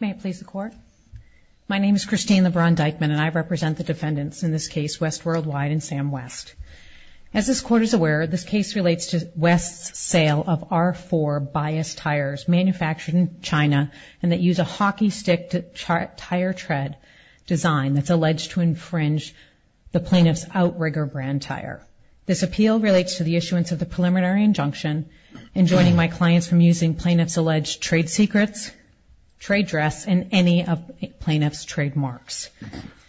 May it please the Court. My name is Christine LeBron-Dykeman and I represent the defendants in this case, West Worldwide and Sam West. As this Court is aware, this case relates to West's sale of R4 bias tires manufactured in China and that use a hockey stick tire tread design that's alleged to infringe the plaintiff's Outrigger brand tire. This appeal relates to the issuance of the preliminary injunction in joining my clients from using plaintiff's alleged trade secrets, trade dress, and any of the plaintiff's trademarks.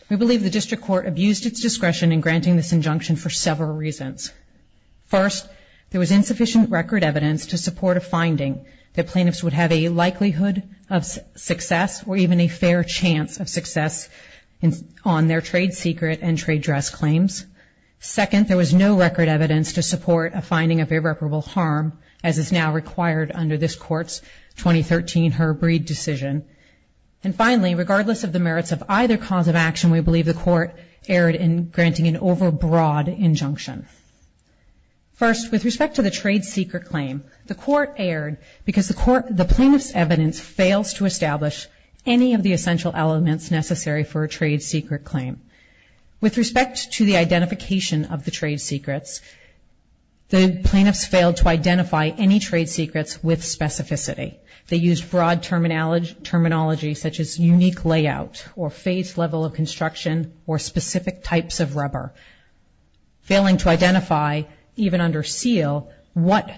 We believe the District Court abused its discretion in granting this injunction for several reasons. First, there was insufficient record evidence to support a finding that plaintiffs would have a likelihood of success or even a fair chance of success on their trade secret and trade dress claims. Second, there was no record evidence to support a finding of irreparable harm as is now required under this Court's 2013 Herb Reid decision. And finally, regardless of the merits of either cause of action, we believe the Court erred in granting an overbroad injunction. First, with respect to the trade secret claim, the Court erred because the plaintiff's evidence fails to establish any of the essential elements necessary for a trade secret claim. With respect to the identification of the trade secrets, the plaintiffs failed to identify any trade secrets with specificity. They used broad terminology such as unique layout or phase level of construction or specific types of rubber, failing to identify, even under seal, what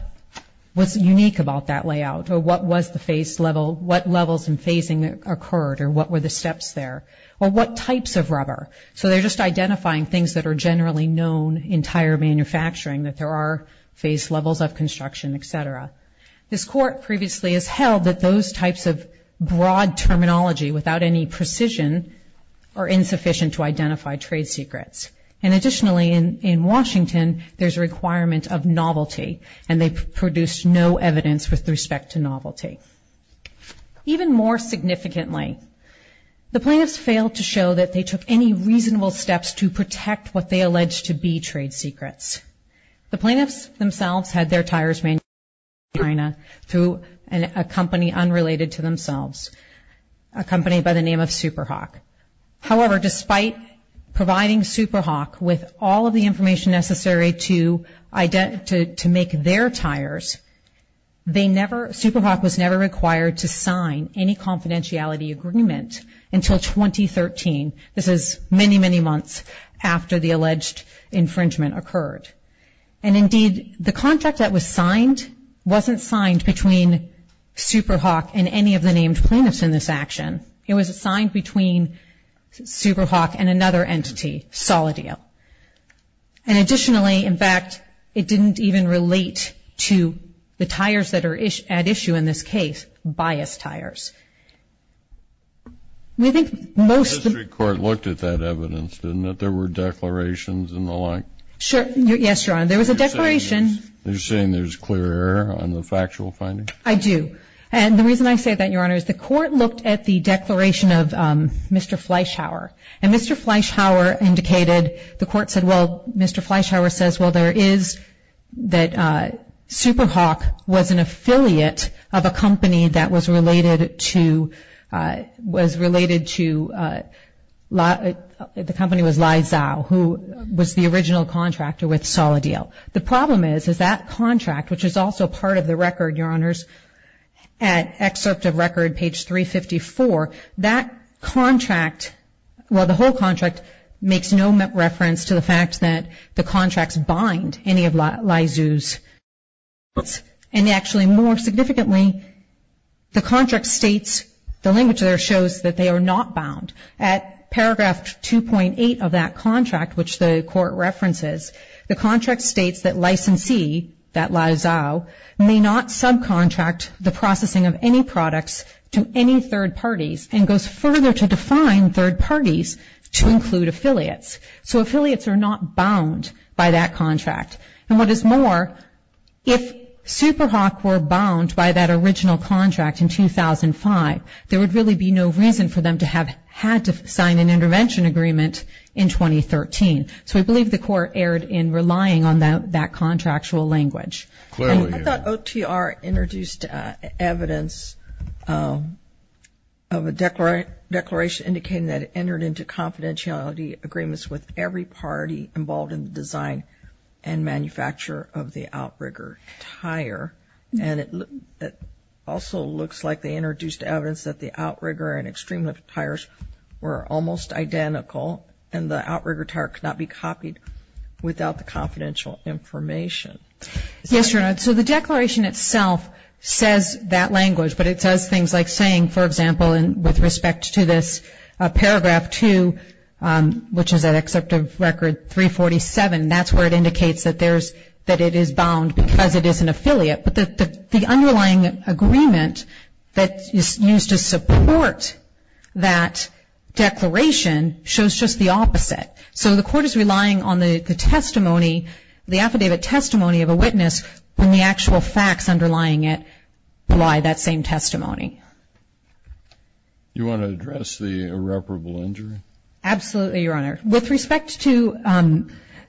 was unique about that layout or what was the phase level, what levels and phasing occurred or what were the steps there or what types of rubber. So they're just identifying things that are generally known in tire manufacturing that there are phase levels of construction, et cetera. This Court previously has held that those types of broad terminology without any precision are insufficient to identify trade secrets. And additionally, in Washington, there's a requirement of novelty and they produced no evidence with respect to novelty. Even more significantly, the plaintiffs failed to show that they took any reasonable steps to protect what they alleged to be trade secrets. The plaintiffs themselves had their tires manufactured in China through a company unrelated to themselves, a company by the name of SuperHawk. However, despite providing SuperHawk with all of the information necessary to make their claim, they were required to sign any confidentiality agreement until 2013. This is many, many months after the alleged infringement occurred. And indeed, the contract that was signed wasn't signed between SuperHawk and any of the named plaintiffs in this action. It was signed between SuperHawk and another entity, Solidio. And additionally, in fact, it didn't even relate to the tires that are at issue in this case, bias tires. We think most of the... The district court looked at that evidence, didn't it? There were declarations and the like. Sure. Yes, Your Honor. There was a declaration... You're saying there's clear error on the factual findings? I do. And the reason I say that, Your Honor, is the court looked at the declaration of Mr. Fleishauer indicated, the court said, well, Mr. Fleishauer says, well, there is that SuperHawk was an affiliate of a company that was related to... Was related to... The company was Lizao, who was the original contractor with Solidio. The problem is, is that contract, which is also part of the record, Your Honors, at excerpt of record, page 354, that contract, well, the whole contract makes no reference to the fact that the contracts bind any of Lizao's... And actually, more significantly, the contract states, the language there shows that they are not bound. At paragraph 2.8 of that contract, which the court references, the contract states that to any third parties and goes further to define third parties to include affiliates. So affiliates are not bound by that contract. And what is more, if SuperHawk were bound by that original contract in 2005, there would really be no reason for them to have had to sign an intervention agreement in 2013. So we believe the court erred in relying on that contractual language. And I thought OTR introduced evidence of a declaration indicating that it entered into confidentiality agreements with every party involved in the design and manufacture of the outrigger tire. And it also looks like they introduced evidence that the outrigger and extreme lift tires were almost identical, and the outrigger tire could not be copied without the confidential information. Yes, Your Honor. So the declaration itself says that language, but it says things like saying, for example, with respect to this paragraph 2, which is that except of record 347, that's where it indicates that it is bound because it is an affiliate. But the underlying agreement that is used to support that declaration shows just the opposite. So the court is relying on the affidavit testimony of a witness when the actual facts underlying it rely that same testimony. You want to address the irreparable injury? Absolutely, Your Honor. With respect to the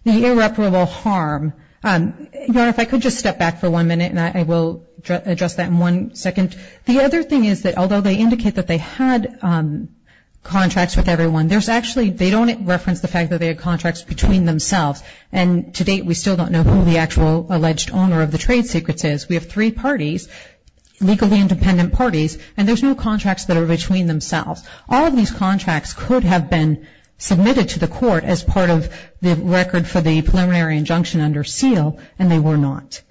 irreparable harm, Your Honor, if I could just step back for one minute and I will address that in one second. The other thing is that although they indicate that they had contracts with everyone, there's actually, they don't reference the fact that they had contracts between themselves. And to date, we still don't know who the actual alleged owner of the trade secrets is. We have three parties, legally independent parties, and there's no contracts that are between themselves. All of these contracts could have been submitted to the court as part of the record for the preliminary injunction under seal, and they were not.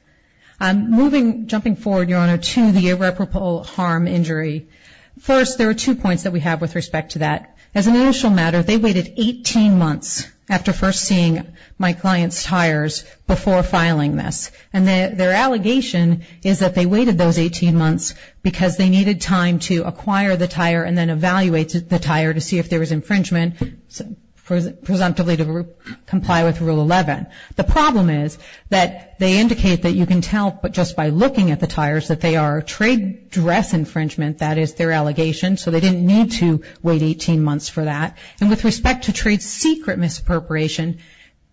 Moving, jumping forward, Your Honor, to the irreparable harm injury, first there are two points that we have with respect to that. As an initial matter, they waited 18 months after first seeing my client's tires before filing this. And their allegation is that they waited those 18 months because they needed time to acquire the tire and then evaluate the tire to see if there was infringement, presumptively to comply with Rule 11. The problem is that they indicate that you can tell just by looking at the tires that they are trade dress infringement. That is their allegation. So they didn't need to wait 18 months for that. And with respect to trade secret misappropriation,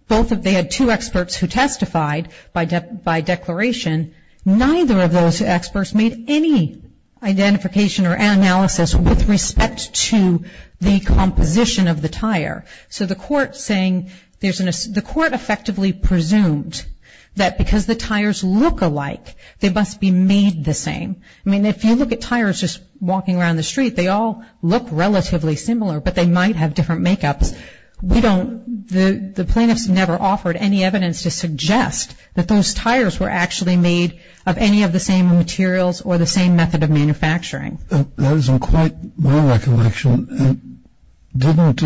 they had two experts who testified by declaration. Neither of those experts made any identification or analysis with respect to the composition of the tire. So the court effectively presumed that because the tires look alike, they must be made the same. I mean, if you look at tires just walking around the street, they all look relatively similar but they might have different makeups. The plaintiffs never offered any evidence to suggest that those tires were actually made of any of the same materials or the same method of manufacturing. That is in quite my recollection, didn't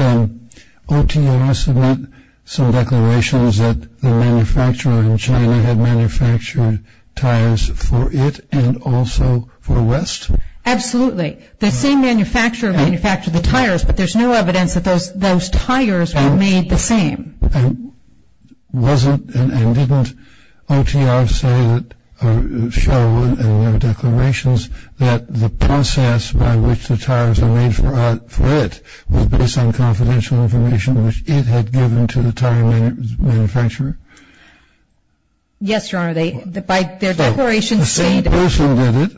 OTRS submit some declarations that the manufacturer in China had manufactured tires for it and also for West? Absolutely. The same manufacturer manufactured the tires but there is no evidence that those tires were made the same. Wasn't and didn't OTRS say or show in their declarations that the process by which the tires were made for it was based on confidential information which it had given to the tire manufacturer? Yes, Your Honor. By their declarations... So the same person did it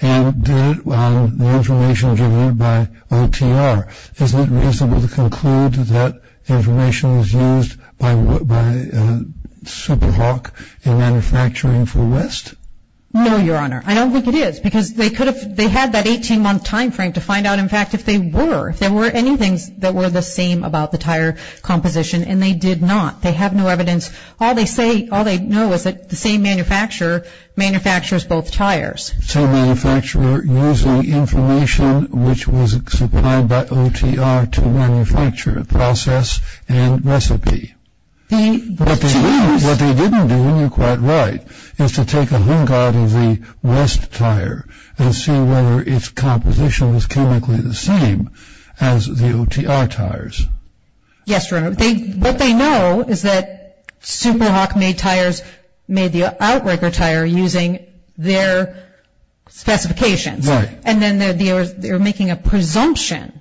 and did it on the information given by OTR. Isn't it reasonable to conclude that information is used by Super Hawk in manufacturing for West? No, Your Honor. I don't think it is because they could have, they had that 18-month timeframe to find out in fact if they were, if there were anything that were the same about the tire composition and they did not. They have no evidence. All they say, all they know is that the same manufacturer manufactures both tires. So manufacturer using information which was supplied by OTR to manufacture process and recipe. The... What they didn't do, and you're quite right, is to take a hunk out of the West tire and see whether its composition was chemically the same as the OTR tires. Yes, Your Honor. What they know is that Super Hawk made tires, made the OTR tire using their specifications. And then they're making a presumption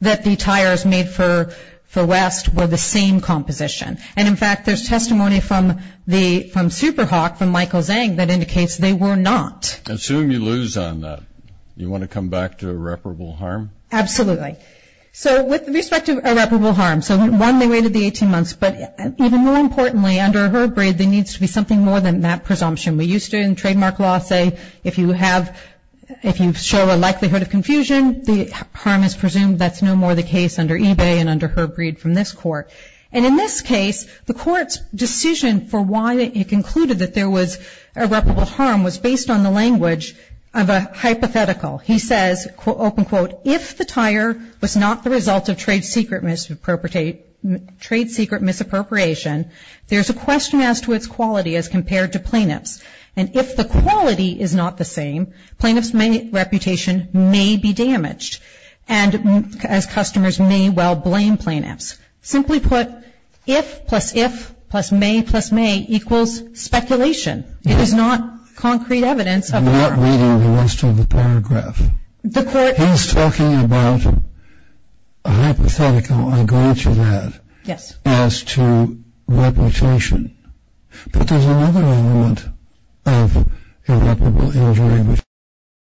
that the tires made for West were the same composition. And in fact, there's testimony from Super Hawk, from Michael Zhang, that indicates they were not. Assume you lose on that. You want to come back to irreparable harm? Absolutely. So with respect to irreparable harm, so one, they waited the 18 months, but even more importantly, under Herb Breed, there needs to be something more than that presumption. We used to, in trademark law, say if you have, if you show a likelihood of confusion, the harm is presumed. That's no more the case under eBay and under Herb Breed from this court. And in this case, the court's decision for why it concluded that there was irreparable harm was based on the language of a hypothetical. He says, open quote, if the tire was not the result of trade secret misappropriation, there's a question as to its quality as compared to plaintiffs. And if the quality is not the same, plaintiffs' reputation may be damaged, and as customers may well blame plaintiffs. Simply put, if plus if plus may plus may equals speculation. It is not concrete evidence of harm. I'm not reading the rest of the paragraph. He's talking about a hypothetical, I agree to that, as to reputation. But there's another element of irreparable injury which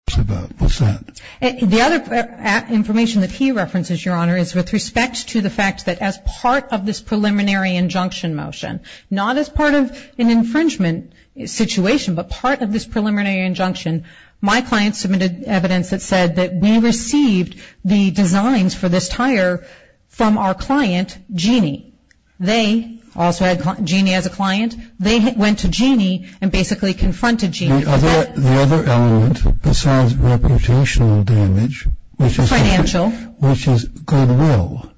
he talks about. What's that? The other information that he references, Your Honor, is with respect to the fact that as part of this preliminary injunction motion, not as part of an infringement situation, but part of this preliminary injunction, my client submitted evidence that said that we received the designs for this tire from our client, Jeannie. They also had Jeannie as a client. They went to Jeannie and basically confronted Jeannie. The other element besides reputational damage, which is goodwill,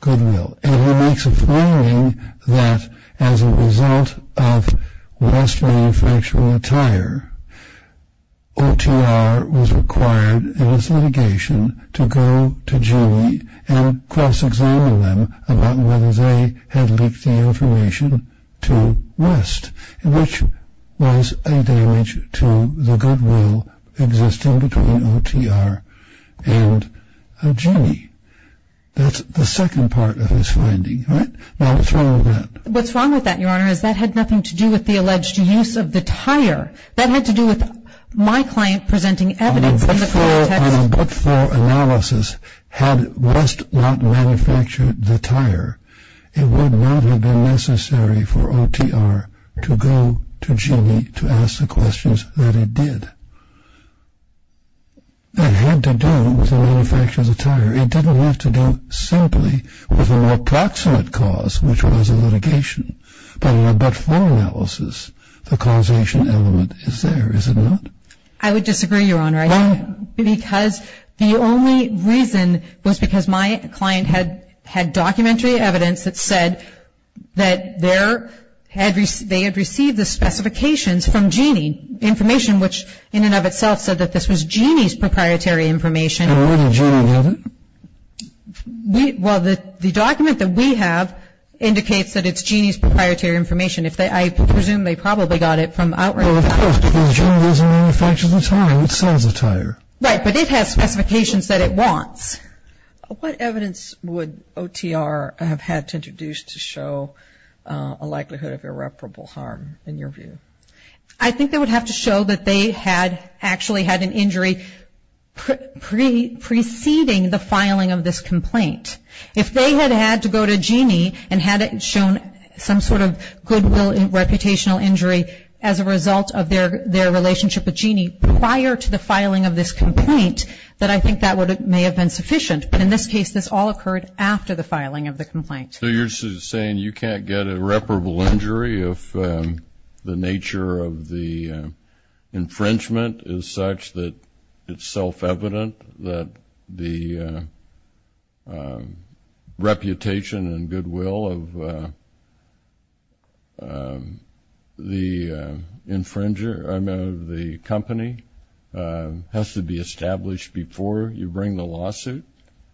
goodwill. And he makes a claiming that as a result of West manufacturing a tire, OTR was required in its litigation to go to Jeannie and cross-examine them about whether they had leaked the information to West, which was a damage to the goodwill existing between OTR and Jeannie. That's the second part of his finding, right? Now, what's wrong with that? What's wrong with that, Your Honor, is that had nothing to do with the alleged use of the tire. That had to do with my client presenting evidence in the context. On a but-for analysis, had West not manufactured the tire, it would not have been necessary for OTR to go to Jeannie to ask the questions that it did. That had to do with the manufacture of the tire. It didn't have to do simply with an approximate cause, which was a litigation. But in a but-for analysis, the causation element is there, is it not? I would disagree, Your Honor, because the only reason was because my client had documentary evidence that said that they had received the specifications from Jeannie, information which in and of itself said that this was Jeannie's proprietary information. And where did Jeannie have it? Well, the document that we have indicates that it's Jeannie's proprietary information. If they, I presume they probably got it from outside. Well, of course, because Jeannie doesn't manufacture the tire, it sells the tire. Right, but it has specifications that it wants. What evidence would OTR have had to introduce to show a likelihood of irreparable harm, in your view? I think they would have to show that they had actually had an injury preceding the filing of this complaint. If they had had to go to Jeannie and had it shown some sort of goodwill and reputational injury as a result of their relationship with Jeannie prior to the filing of this complaint, then I think that may have been sufficient. In this case, this all occurred after the filing of the complaint. So you're saying you can't get irreparable injury if the nature of the infringement is such that it's self-evident that the reputation and goodwill of the company has to be established before you bring the lawsuit?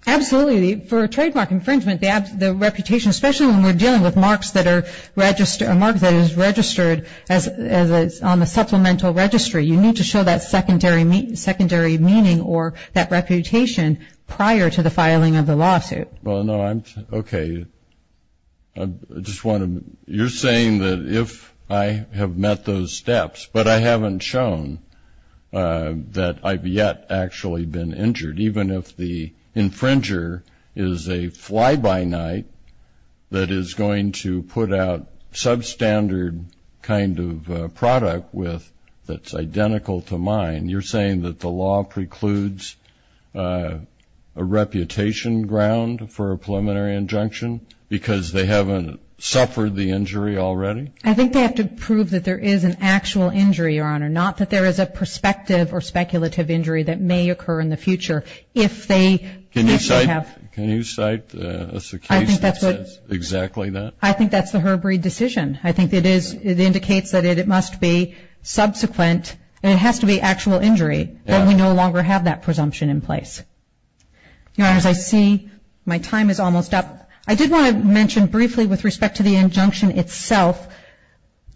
Absolutely. For a trademark infringement, the reputation, especially when we're dealing with marks that are registered, a mark that is registered as on the supplemental registry, you need to show that secondary meaning or that reputation prior to the filing of the lawsuit. Well, no, I'm, okay, I just want to, you're saying that if I have met those steps, but I haven't shown that I've yet actually been injured, even if the infringer is a fly-by-night that is going to put out substandard kind of product that's identical to mine, you're saying that the law precludes a reputation ground for a preliminary injunction because they haven't suffered the injury already? I think they have to prove that there is an actual injury, Your Honor, not that there is a prospective or speculative injury that may occur in the future. Can you cite a case that says exactly that? I think that's the Herb Reed decision. I think it is, it indicates that it must be subsequent, and it has to be actual injury, and we no longer have that presumption in place. Your Honor, as I see, my time is almost up. I did want to mention briefly with respect to the injunction itself,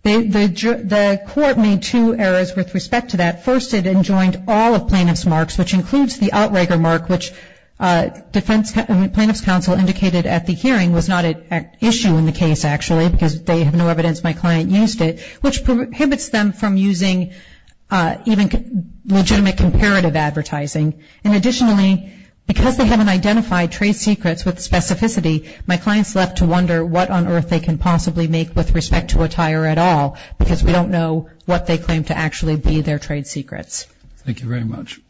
the court made two errors with respect to that. First, it enjoined all of plaintiff's marks, which includes the outrigger mark, which plaintiff's counsel indicated at the hearing was not an issue in the case, actually, because they have no evidence my client used it, which prohibits them from using even legitimate comparative advertising. And additionally, because they haven't identified trade secrets with specificity, my client's left to wonder what on earth they can possibly make with respect to attire at all, because we don't know what they claim to actually be their trade secrets. Thank you very much.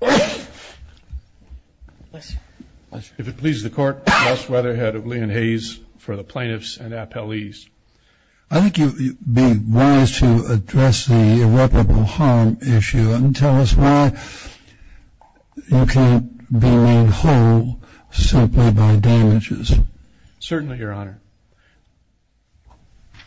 If it pleases the Court, Joss Weatherhead of Lee and Hayes for the plaintiffs and appellees. I think you'd be wise to address the irreparable harm issue and tell us why you can't be made whole simply by damages. Certainly, Your Honor.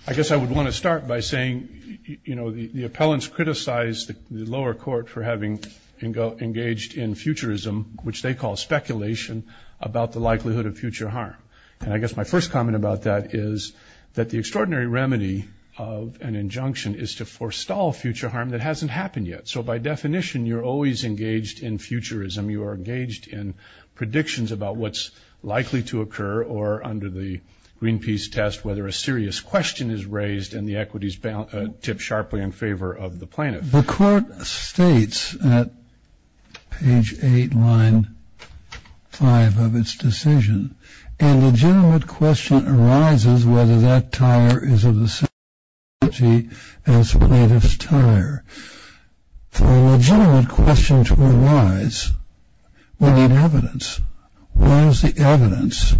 I guess I would want to start by saying, you know, the appellants criticized the lower court for having engaged in futurism, which they call speculation, about the likelihood of future harm. And I guess my first comment about that is that the extraordinary remedy of an injunction is to forestall future harm that hasn't happened yet. So by definition, you're always engaged in futurism. You are engaged in predictions about what's likely to occur or under the Greenpeace test whether a serious question is raised and the equities tip sharply in favor of the plaintiff. The Court states at page 8, line 5 of its decision, and a legitimate question arises whether that tire is of the same quality as the plaintiff's tire. For a legitimate question to arise, we need evidence. Where is the evidence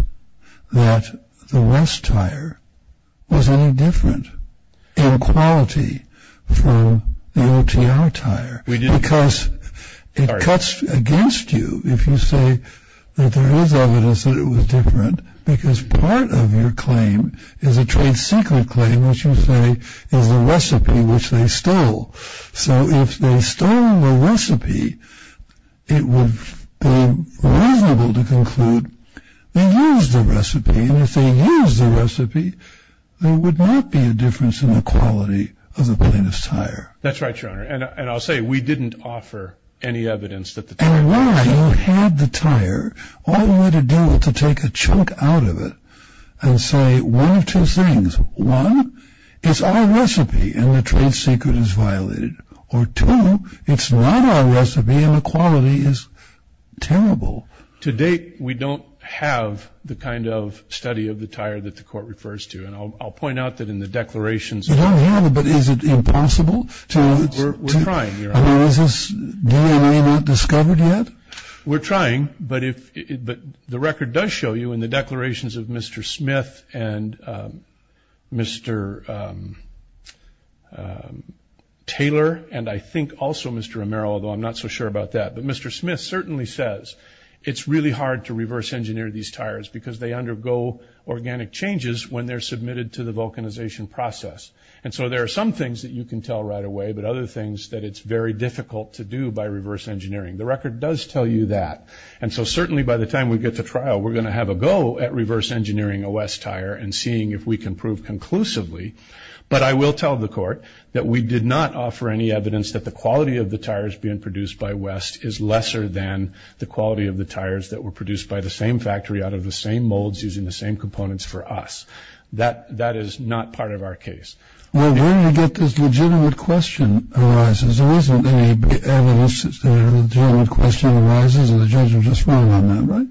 that the West tire was any different in quality from the OTR tire? Because it cuts against you if you say that there is evidence that it was different because part of your claim is a trade secret claim, which you say is the recipe which they stole. So if they stole the recipe, it would be reasonable to conclude they used the recipe. And if they used the recipe, there would not be a difference in the quality of the plaintiff's tire. That's right, Your Honor. And I'll say we didn't offer any evidence that the tire was different. And why? You had the tire. All you had to do was to take a chunk out of it and say one of two things. One, it's our recipe and the trade secret is violated. Or two, it's not our recipe and the quality is terrible. To date, we don't have the kind of study of the tire that the court refers to. And I'll point out that in the declarations. You don't have it, but is it impossible? We're trying, Your Honor. Is this DNA not discovered yet? We're trying. But the record does show you in the declarations of Mr. Smith and Mr. Taylor and I think also Mr. Romero, although I'm not so sure about that. But Mr. Smith certainly says it's really hard to reverse engineer these tires because they undergo organic changes when they're submitted to the vulcanization process. And so there are some things that you can tell right away, but other things that it's very difficult to do by reverse engineering. The record does tell you that. And so certainly by the time we get to trial, we're going to have a go at reverse engineering a West tire and seeing if we can prove conclusively. But I will tell the court that we did not offer any evidence that the quality of the tires being produced by West is lesser than the quality of the tires that were produced by the same factory out of the same molds using the same components for us. That is not part of our case. Well, when you get this legitimate question arises, there isn't any evidence that a legitimate question arises, and the judge will just rule on that, right?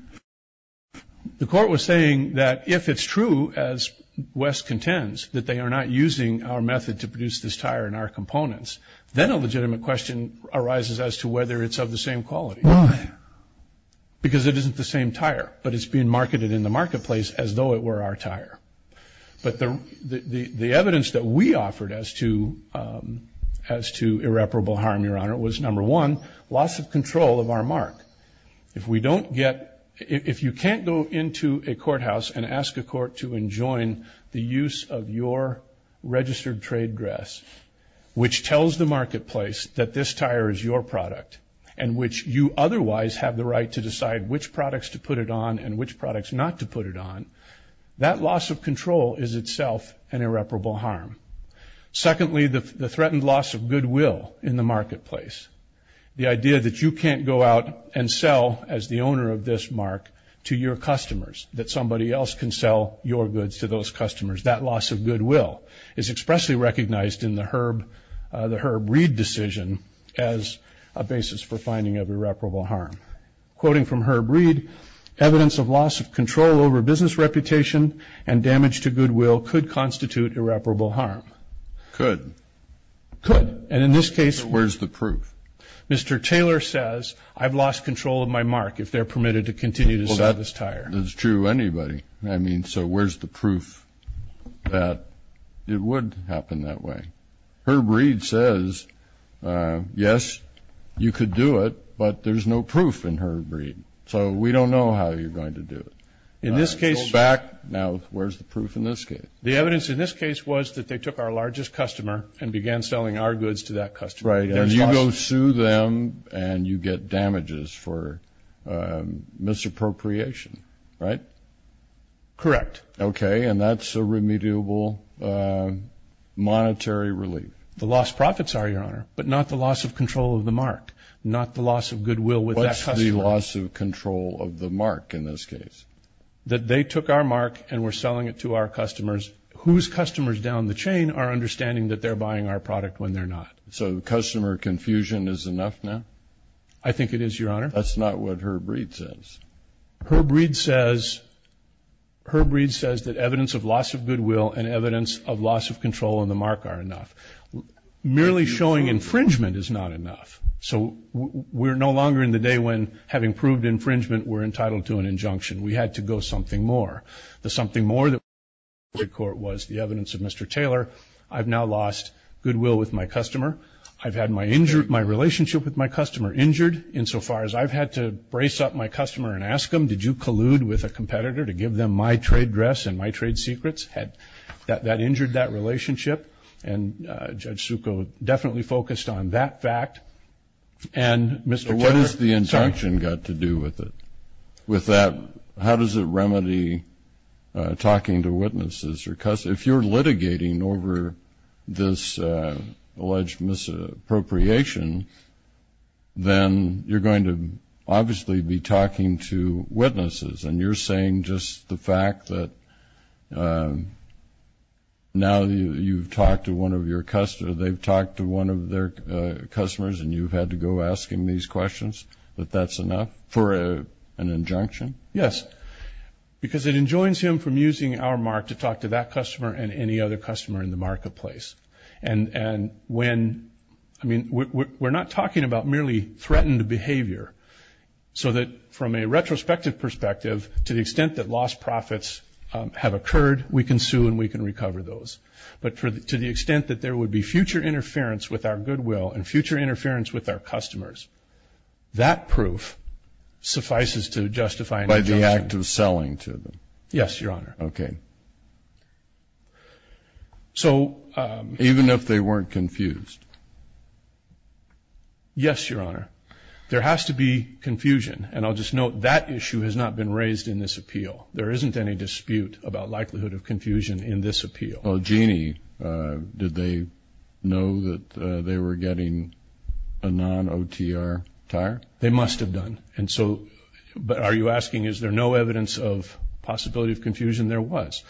The court was saying that if it's true, as West contends, that they are not using our method to produce this tire and our components, then a legitimate question arises as to whether it's of the same quality. Why? Because it isn't the same tire, but it's being marketed in the marketplace as though it were our tire. But the evidence that we offered as to irreparable harm, Your Honor, was, number one, loss of control of our mark. If we don't get – if you can't go into a courthouse and ask a court to enjoin the use of your registered trade dress, which tells the marketplace that this tire is your product and which you otherwise have the right to decide which products to put it on and which products not to put it on, that loss of control is itself an irreparable harm. Secondly, the threatened loss of goodwill in the marketplace, the idea that you can't go out and sell as the owner of this mark to your customers, that somebody else can sell your goods to those customers, that loss of goodwill is expressly recognized in the Herb Reid decision as a basis for finding of irreparable harm. Quoting from Herb Reid, evidence of loss of control over business reputation and damage to goodwill could constitute irreparable harm. Could. Could. And in this case – So where's the proof? Mr. Taylor says, I've lost control of my mark if they're permitted to continue to sell this tire. That's true of anybody. I mean, so where's the proof that it would happen that way? Herb Reid says, yes, you could do it, but there's no proof in Herb Reid. So we don't know how you're going to do it. In this case – Go back. Now, where's the proof in this case? The evidence in this case was that they took our largest customer and began selling our goods to that customer. Right. And you go sue them and you get damages for misappropriation, right? Correct. Okay. And that's a remediable monetary relief. The lost profits are, Your Honor, but not the loss of control of the mark, not the loss of goodwill with that customer. What's the loss of control of the mark in this case? That they took our mark and were selling it to our customers whose customers down the chain are understanding that they're buying our product when they're not. So the customer confusion is enough now? I think it is, Your Honor. That's not what Herb Reid says. Herb Reid says that evidence of loss of goodwill and evidence of loss of control of the mark are enough. Merely showing infringement is not enough. So we're no longer in the day when, having proved infringement, we're entitled to an injunction. We had to go something more. The something more that was the evidence of Mr. Taylor, I've now lost goodwill with my customer. I've had my relationship with my customer injured insofar as I've had to brace up my customer and ask him, did you collude with a competitor to give them my trade dress and my trade secrets? That injured that relationship. And Judge Succo definitely focused on that fact. And Mr. Taylor. What has the injunction got to do with it? With that, how does it remedy talking to witnesses? If you're litigating over this alleged misappropriation, then you're going to obviously be talking to witnesses. And you're saying just the fact that now you've talked to one of your customers, they've talked to one of their customers and you've had to go asking these questions, that that's enough for an injunction? Yes. Because it enjoins him from using our mark to talk to that customer and any other customer in the marketplace. And when we're not talking about merely threatened behavior, so that from a retrospective perspective, to the extent that lost profits have occurred, we can sue and we can recover those. But to the extent that there would be future interference with our goodwill and future interference with our customers, that proof suffices to justify an injunction. It's an act of selling to them. Yes, Your Honor. Okay. So. Even if they weren't confused. Yes, Your Honor. There has to be confusion. And I'll just note that issue has not been raised in this appeal. There isn't any dispute about likelihood of confusion in this appeal. Well, Jeanne, did they know that they were getting a non-OTR tire? They must have done. And so are you asking is there no evidence of possibility of confusion? There was.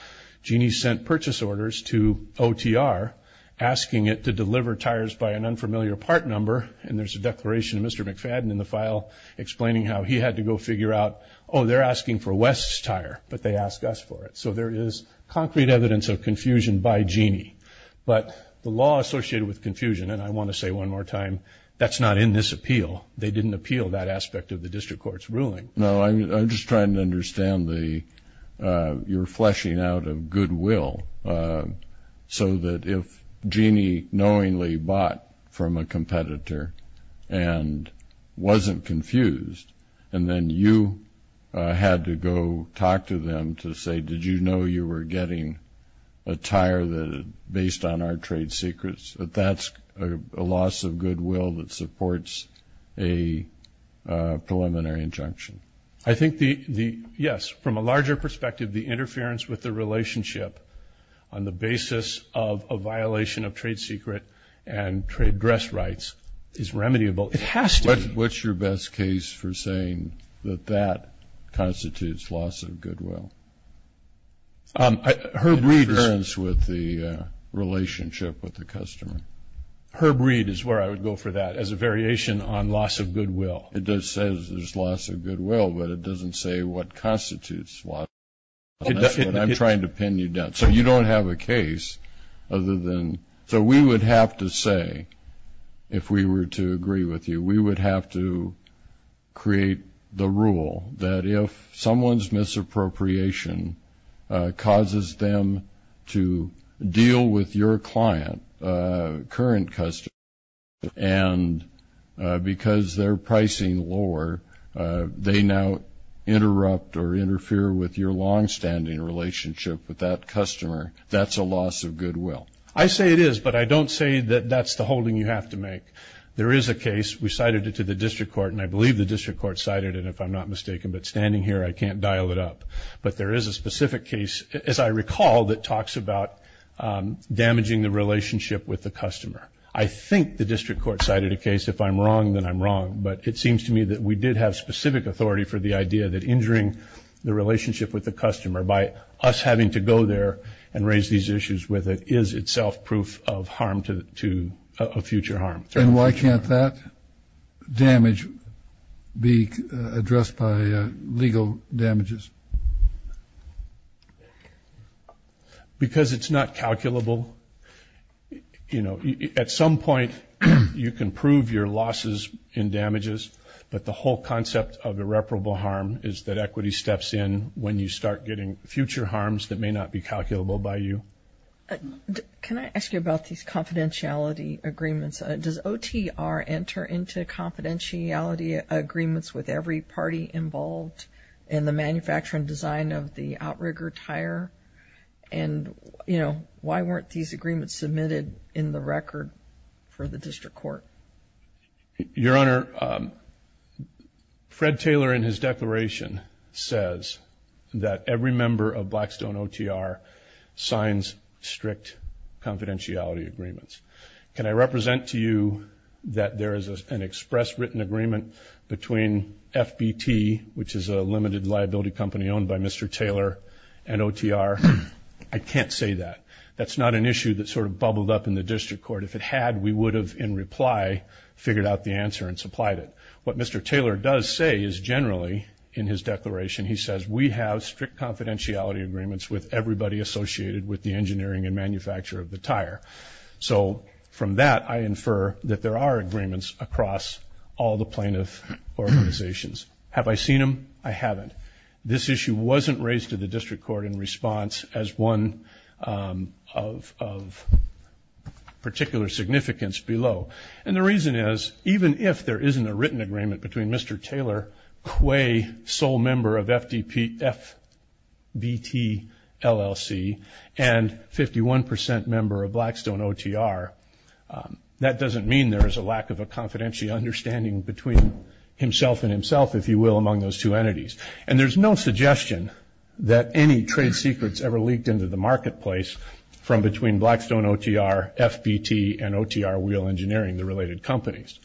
Jeanne sent purchase orders to OTR asking it to deliver tires by an unfamiliar part number, and there's a declaration of Mr. McFadden in the file explaining how he had to go figure out, oh, they're asking for Wes's tire, but they ask us for it. So there is concrete evidence of confusion by Jeanne. But the law associated with confusion, and I want to say one more time, that's not in this appeal. They didn't appeal that aspect of the district court's ruling. No, I'm just trying to understand the you're fleshing out of goodwill so that if Jeanne knowingly bought from a competitor and wasn't confused and then you had to go talk to them to say, did you know you were getting a tire based on our trade secrets, that that's a loss of goodwill that supports a preliminary injunction? I think the, yes, from a larger perspective, the interference with the relationship on the basis of a violation of trade secret and trade dress rights is remediable. It has to be. What's your best case for saying that that constitutes loss of goodwill? Herb Reed. Interference with the relationship with the customer. Herb Reed is where I would go for that as a variation on loss of goodwill. It does say there's loss of goodwill, but it doesn't say what constitutes loss of goodwill. That's what I'm trying to pin you down. So you don't have a case other than, so we would have to say, if we were to agree with you, we would have to create the rule that if someone's misappropriation causes them to deal with your client, current customer, and because they're pricing lower, they now interrupt or interfere with your longstanding relationship with that customer, that's a loss of goodwill. I say it is, but I don't say that that's the holding you have to make. There is a case. We cited it to the district court, and I believe the district court cited it, if I'm not mistaken. But standing here, I can't dial it up. But there is a specific case, as I recall, that talks about damaging the relationship with the customer. I think the district court cited a case. If I'm wrong, then I'm wrong. But it seems to me that we did have specific authority for the idea that injuring the relationship with the customer by us having to go there and raise these issues with it is itself proof of harm to a future harm. And why can't that damage be addressed by legal damages? Because it's not calculable. You know, at some point, you can prove your losses in damages, but the whole concept of irreparable harm is that equity steps in when you start getting future harms that may not be calculable by you. Can I ask you about these confidentiality agreements? Does OTR enter into confidentiality agreements with every party involved in the manufacture and design of the outrigger tire? And, you know, why weren't these agreements submitted in the record for the district court? Your Honor, Fred Taylor in his declaration says that every member of Blackstone OTR signs strict confidentiality agreements. Can I represent to you that there is an express written agreement between FBT, which is a limited liability company owned by Mr. Taylor, and OTR? I can't say that. That's not an issue that sort of bubbled up in the district court. If it had, we would have, in reply, figured out the answer and supplied it. What Mr. Taylor does say is generally, in his declaration, he says, we have strict confidentiality agreements with everybody associated with the engineering and manufacture of the tire. So from that, I infer that there are agreements across all the plaintiff organizations. Have I seen them? I haven't. This issue wasn't raised to the district court in response as one of particular significance below. And the reason is, even if there isn't a written agreement between Mr. Taylor, qua sole member of FBT, LLC, and 51% member of Blackstone OTR, that doesn't mean there is a lack of a confidentiality understanding between himself and himself, if you will, among those two entities. And there's no suggestion that any trade secrets ever leaked into the marketplace from between Blackstone OTR, FBT, and OTR Wheel Engineering, the related companies.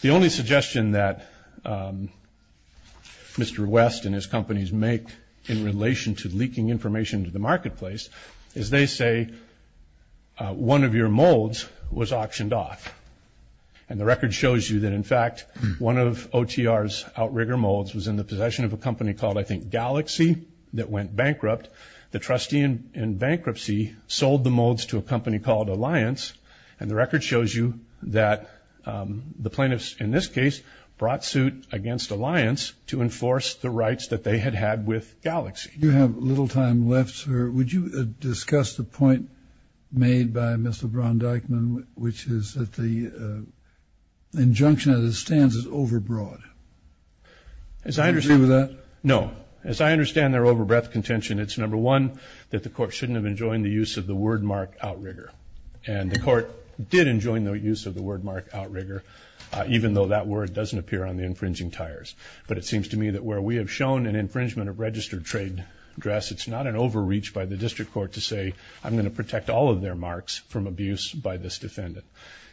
The only suggestion that Mr. West and his companies make in relation to leaking information to the marketplace is, they say, one of your molds was auctioned off. And the record shows you that, in fact, one of OTR's outrigger molds was in the possession of a company called, I think, Galaxy, that went bankrupt. The trustee in bankruptcy sold the molds to a company called Alliance. And the record shows you that the plaintiffs, in this case, brought suit against Alliance to enforce the rights that they had had with Galaxy. You have little time left, sir. Would you discuss the point made by Mr. Brown-Deichmann, which is that the injunction as it stands is overbroad? Do you agree with that? No. As I understand their overbreadth contention, it's, number one, that the court shouldn't have enjoined the use of the word mark outrigger. And the court did enjoin the use of the word mark outrigger, even though that word doesn't appear on the infringing tires. But it seems to me that where we have shown an infringement of registered trade address, it's not an overreach by the district court to say I'm going to protect all of their marks from abuse by this defendant.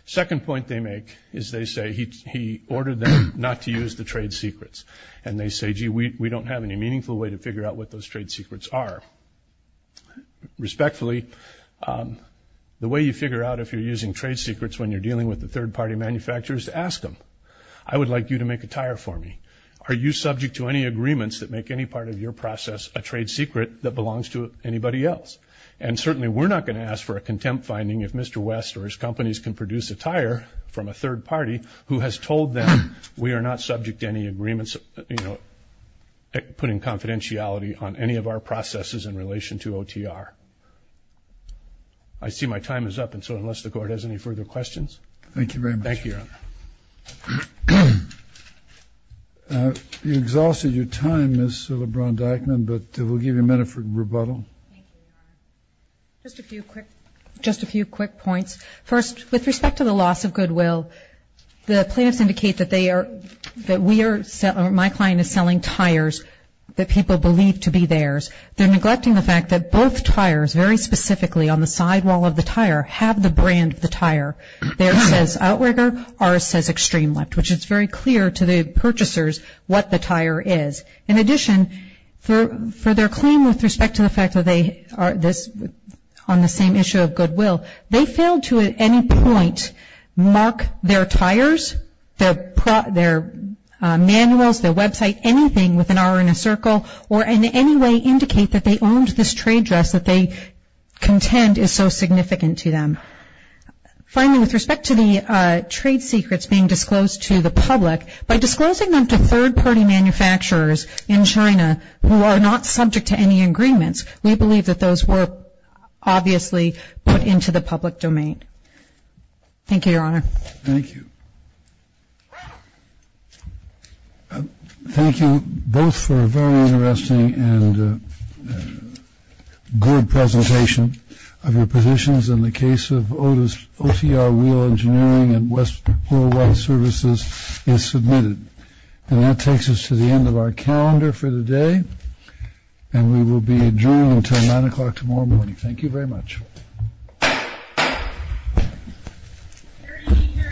Second point they make is they say he ordered them not to use the trade secrets. And they say, gee, we don't have any meaningful way to figure out what those trade secrets are. Respectfully, the way you figure out if you're using trade secrets when you're dealing with the third-party manufacturers, ask them, I would like you to make a tire for me. Are you subject to any agreements that make any part of your process a trade secret that belongs to anybody else? And certainly we're not going to ask for a contempt finding if Mr. West or his companies can produce a tire from a third party who has told them we are not subject to any agreements, you know, putting confidentiality on any of our processes in relation to OTR. I see my time is up, and so unless the court has any further questions. Thank you very much. Thank you, Your Honor. You exhausted your time, Ms. LeBron-Dackman, but we'll give you a minute for rebuttal. Thank you, Your Honor. Just a few quick points. First, with respect to the loss of goodwill, the plaintiffs indicate that they are, that we are, my client is selling tires that people believe to be theirs. They're neglecting the fact that both tires, very specifically on the sidewall of the tire, have the brand of the tire. Theirs says Outrigger, ours says Extreme Lift, which is very clear to the purchasers what the tire is. In addition, for their claim with respect to the fact that they are on the same issue of goodwill, they failed to at any point mark their tires, their manuals, their website, anything with an R in a circle, or in any way indicate that they owned this trade dress that they contend is so significant to them. Finally, with respect to the trade secrets being disclosed to the public, by disclosing them to third-party manufacturers in China who are not subject to any agreements, we believe that those were obviously put into the public domain. Thank you, Your Honor. Thank you. Thank you both for a very interesting and good presentation of your positions in the case of OTR Wheel Engineering and West 401 Services is submitted. And that takes us to the end of our calendar for the day, and we will be adjourned until 9 o'clock tomorrow morning. Thank you very much. Hear ye, hear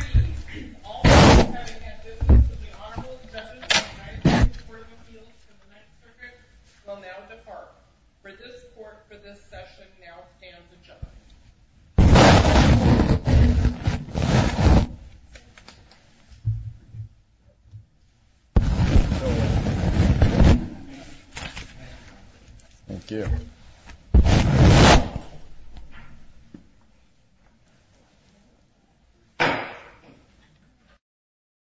ye. All those having had business with the Honorable Justice of the United States Court of Appeals for the Ninth Circuit will now depart. For this Court, for this session, now stands adjourned. Thank you. Thank you.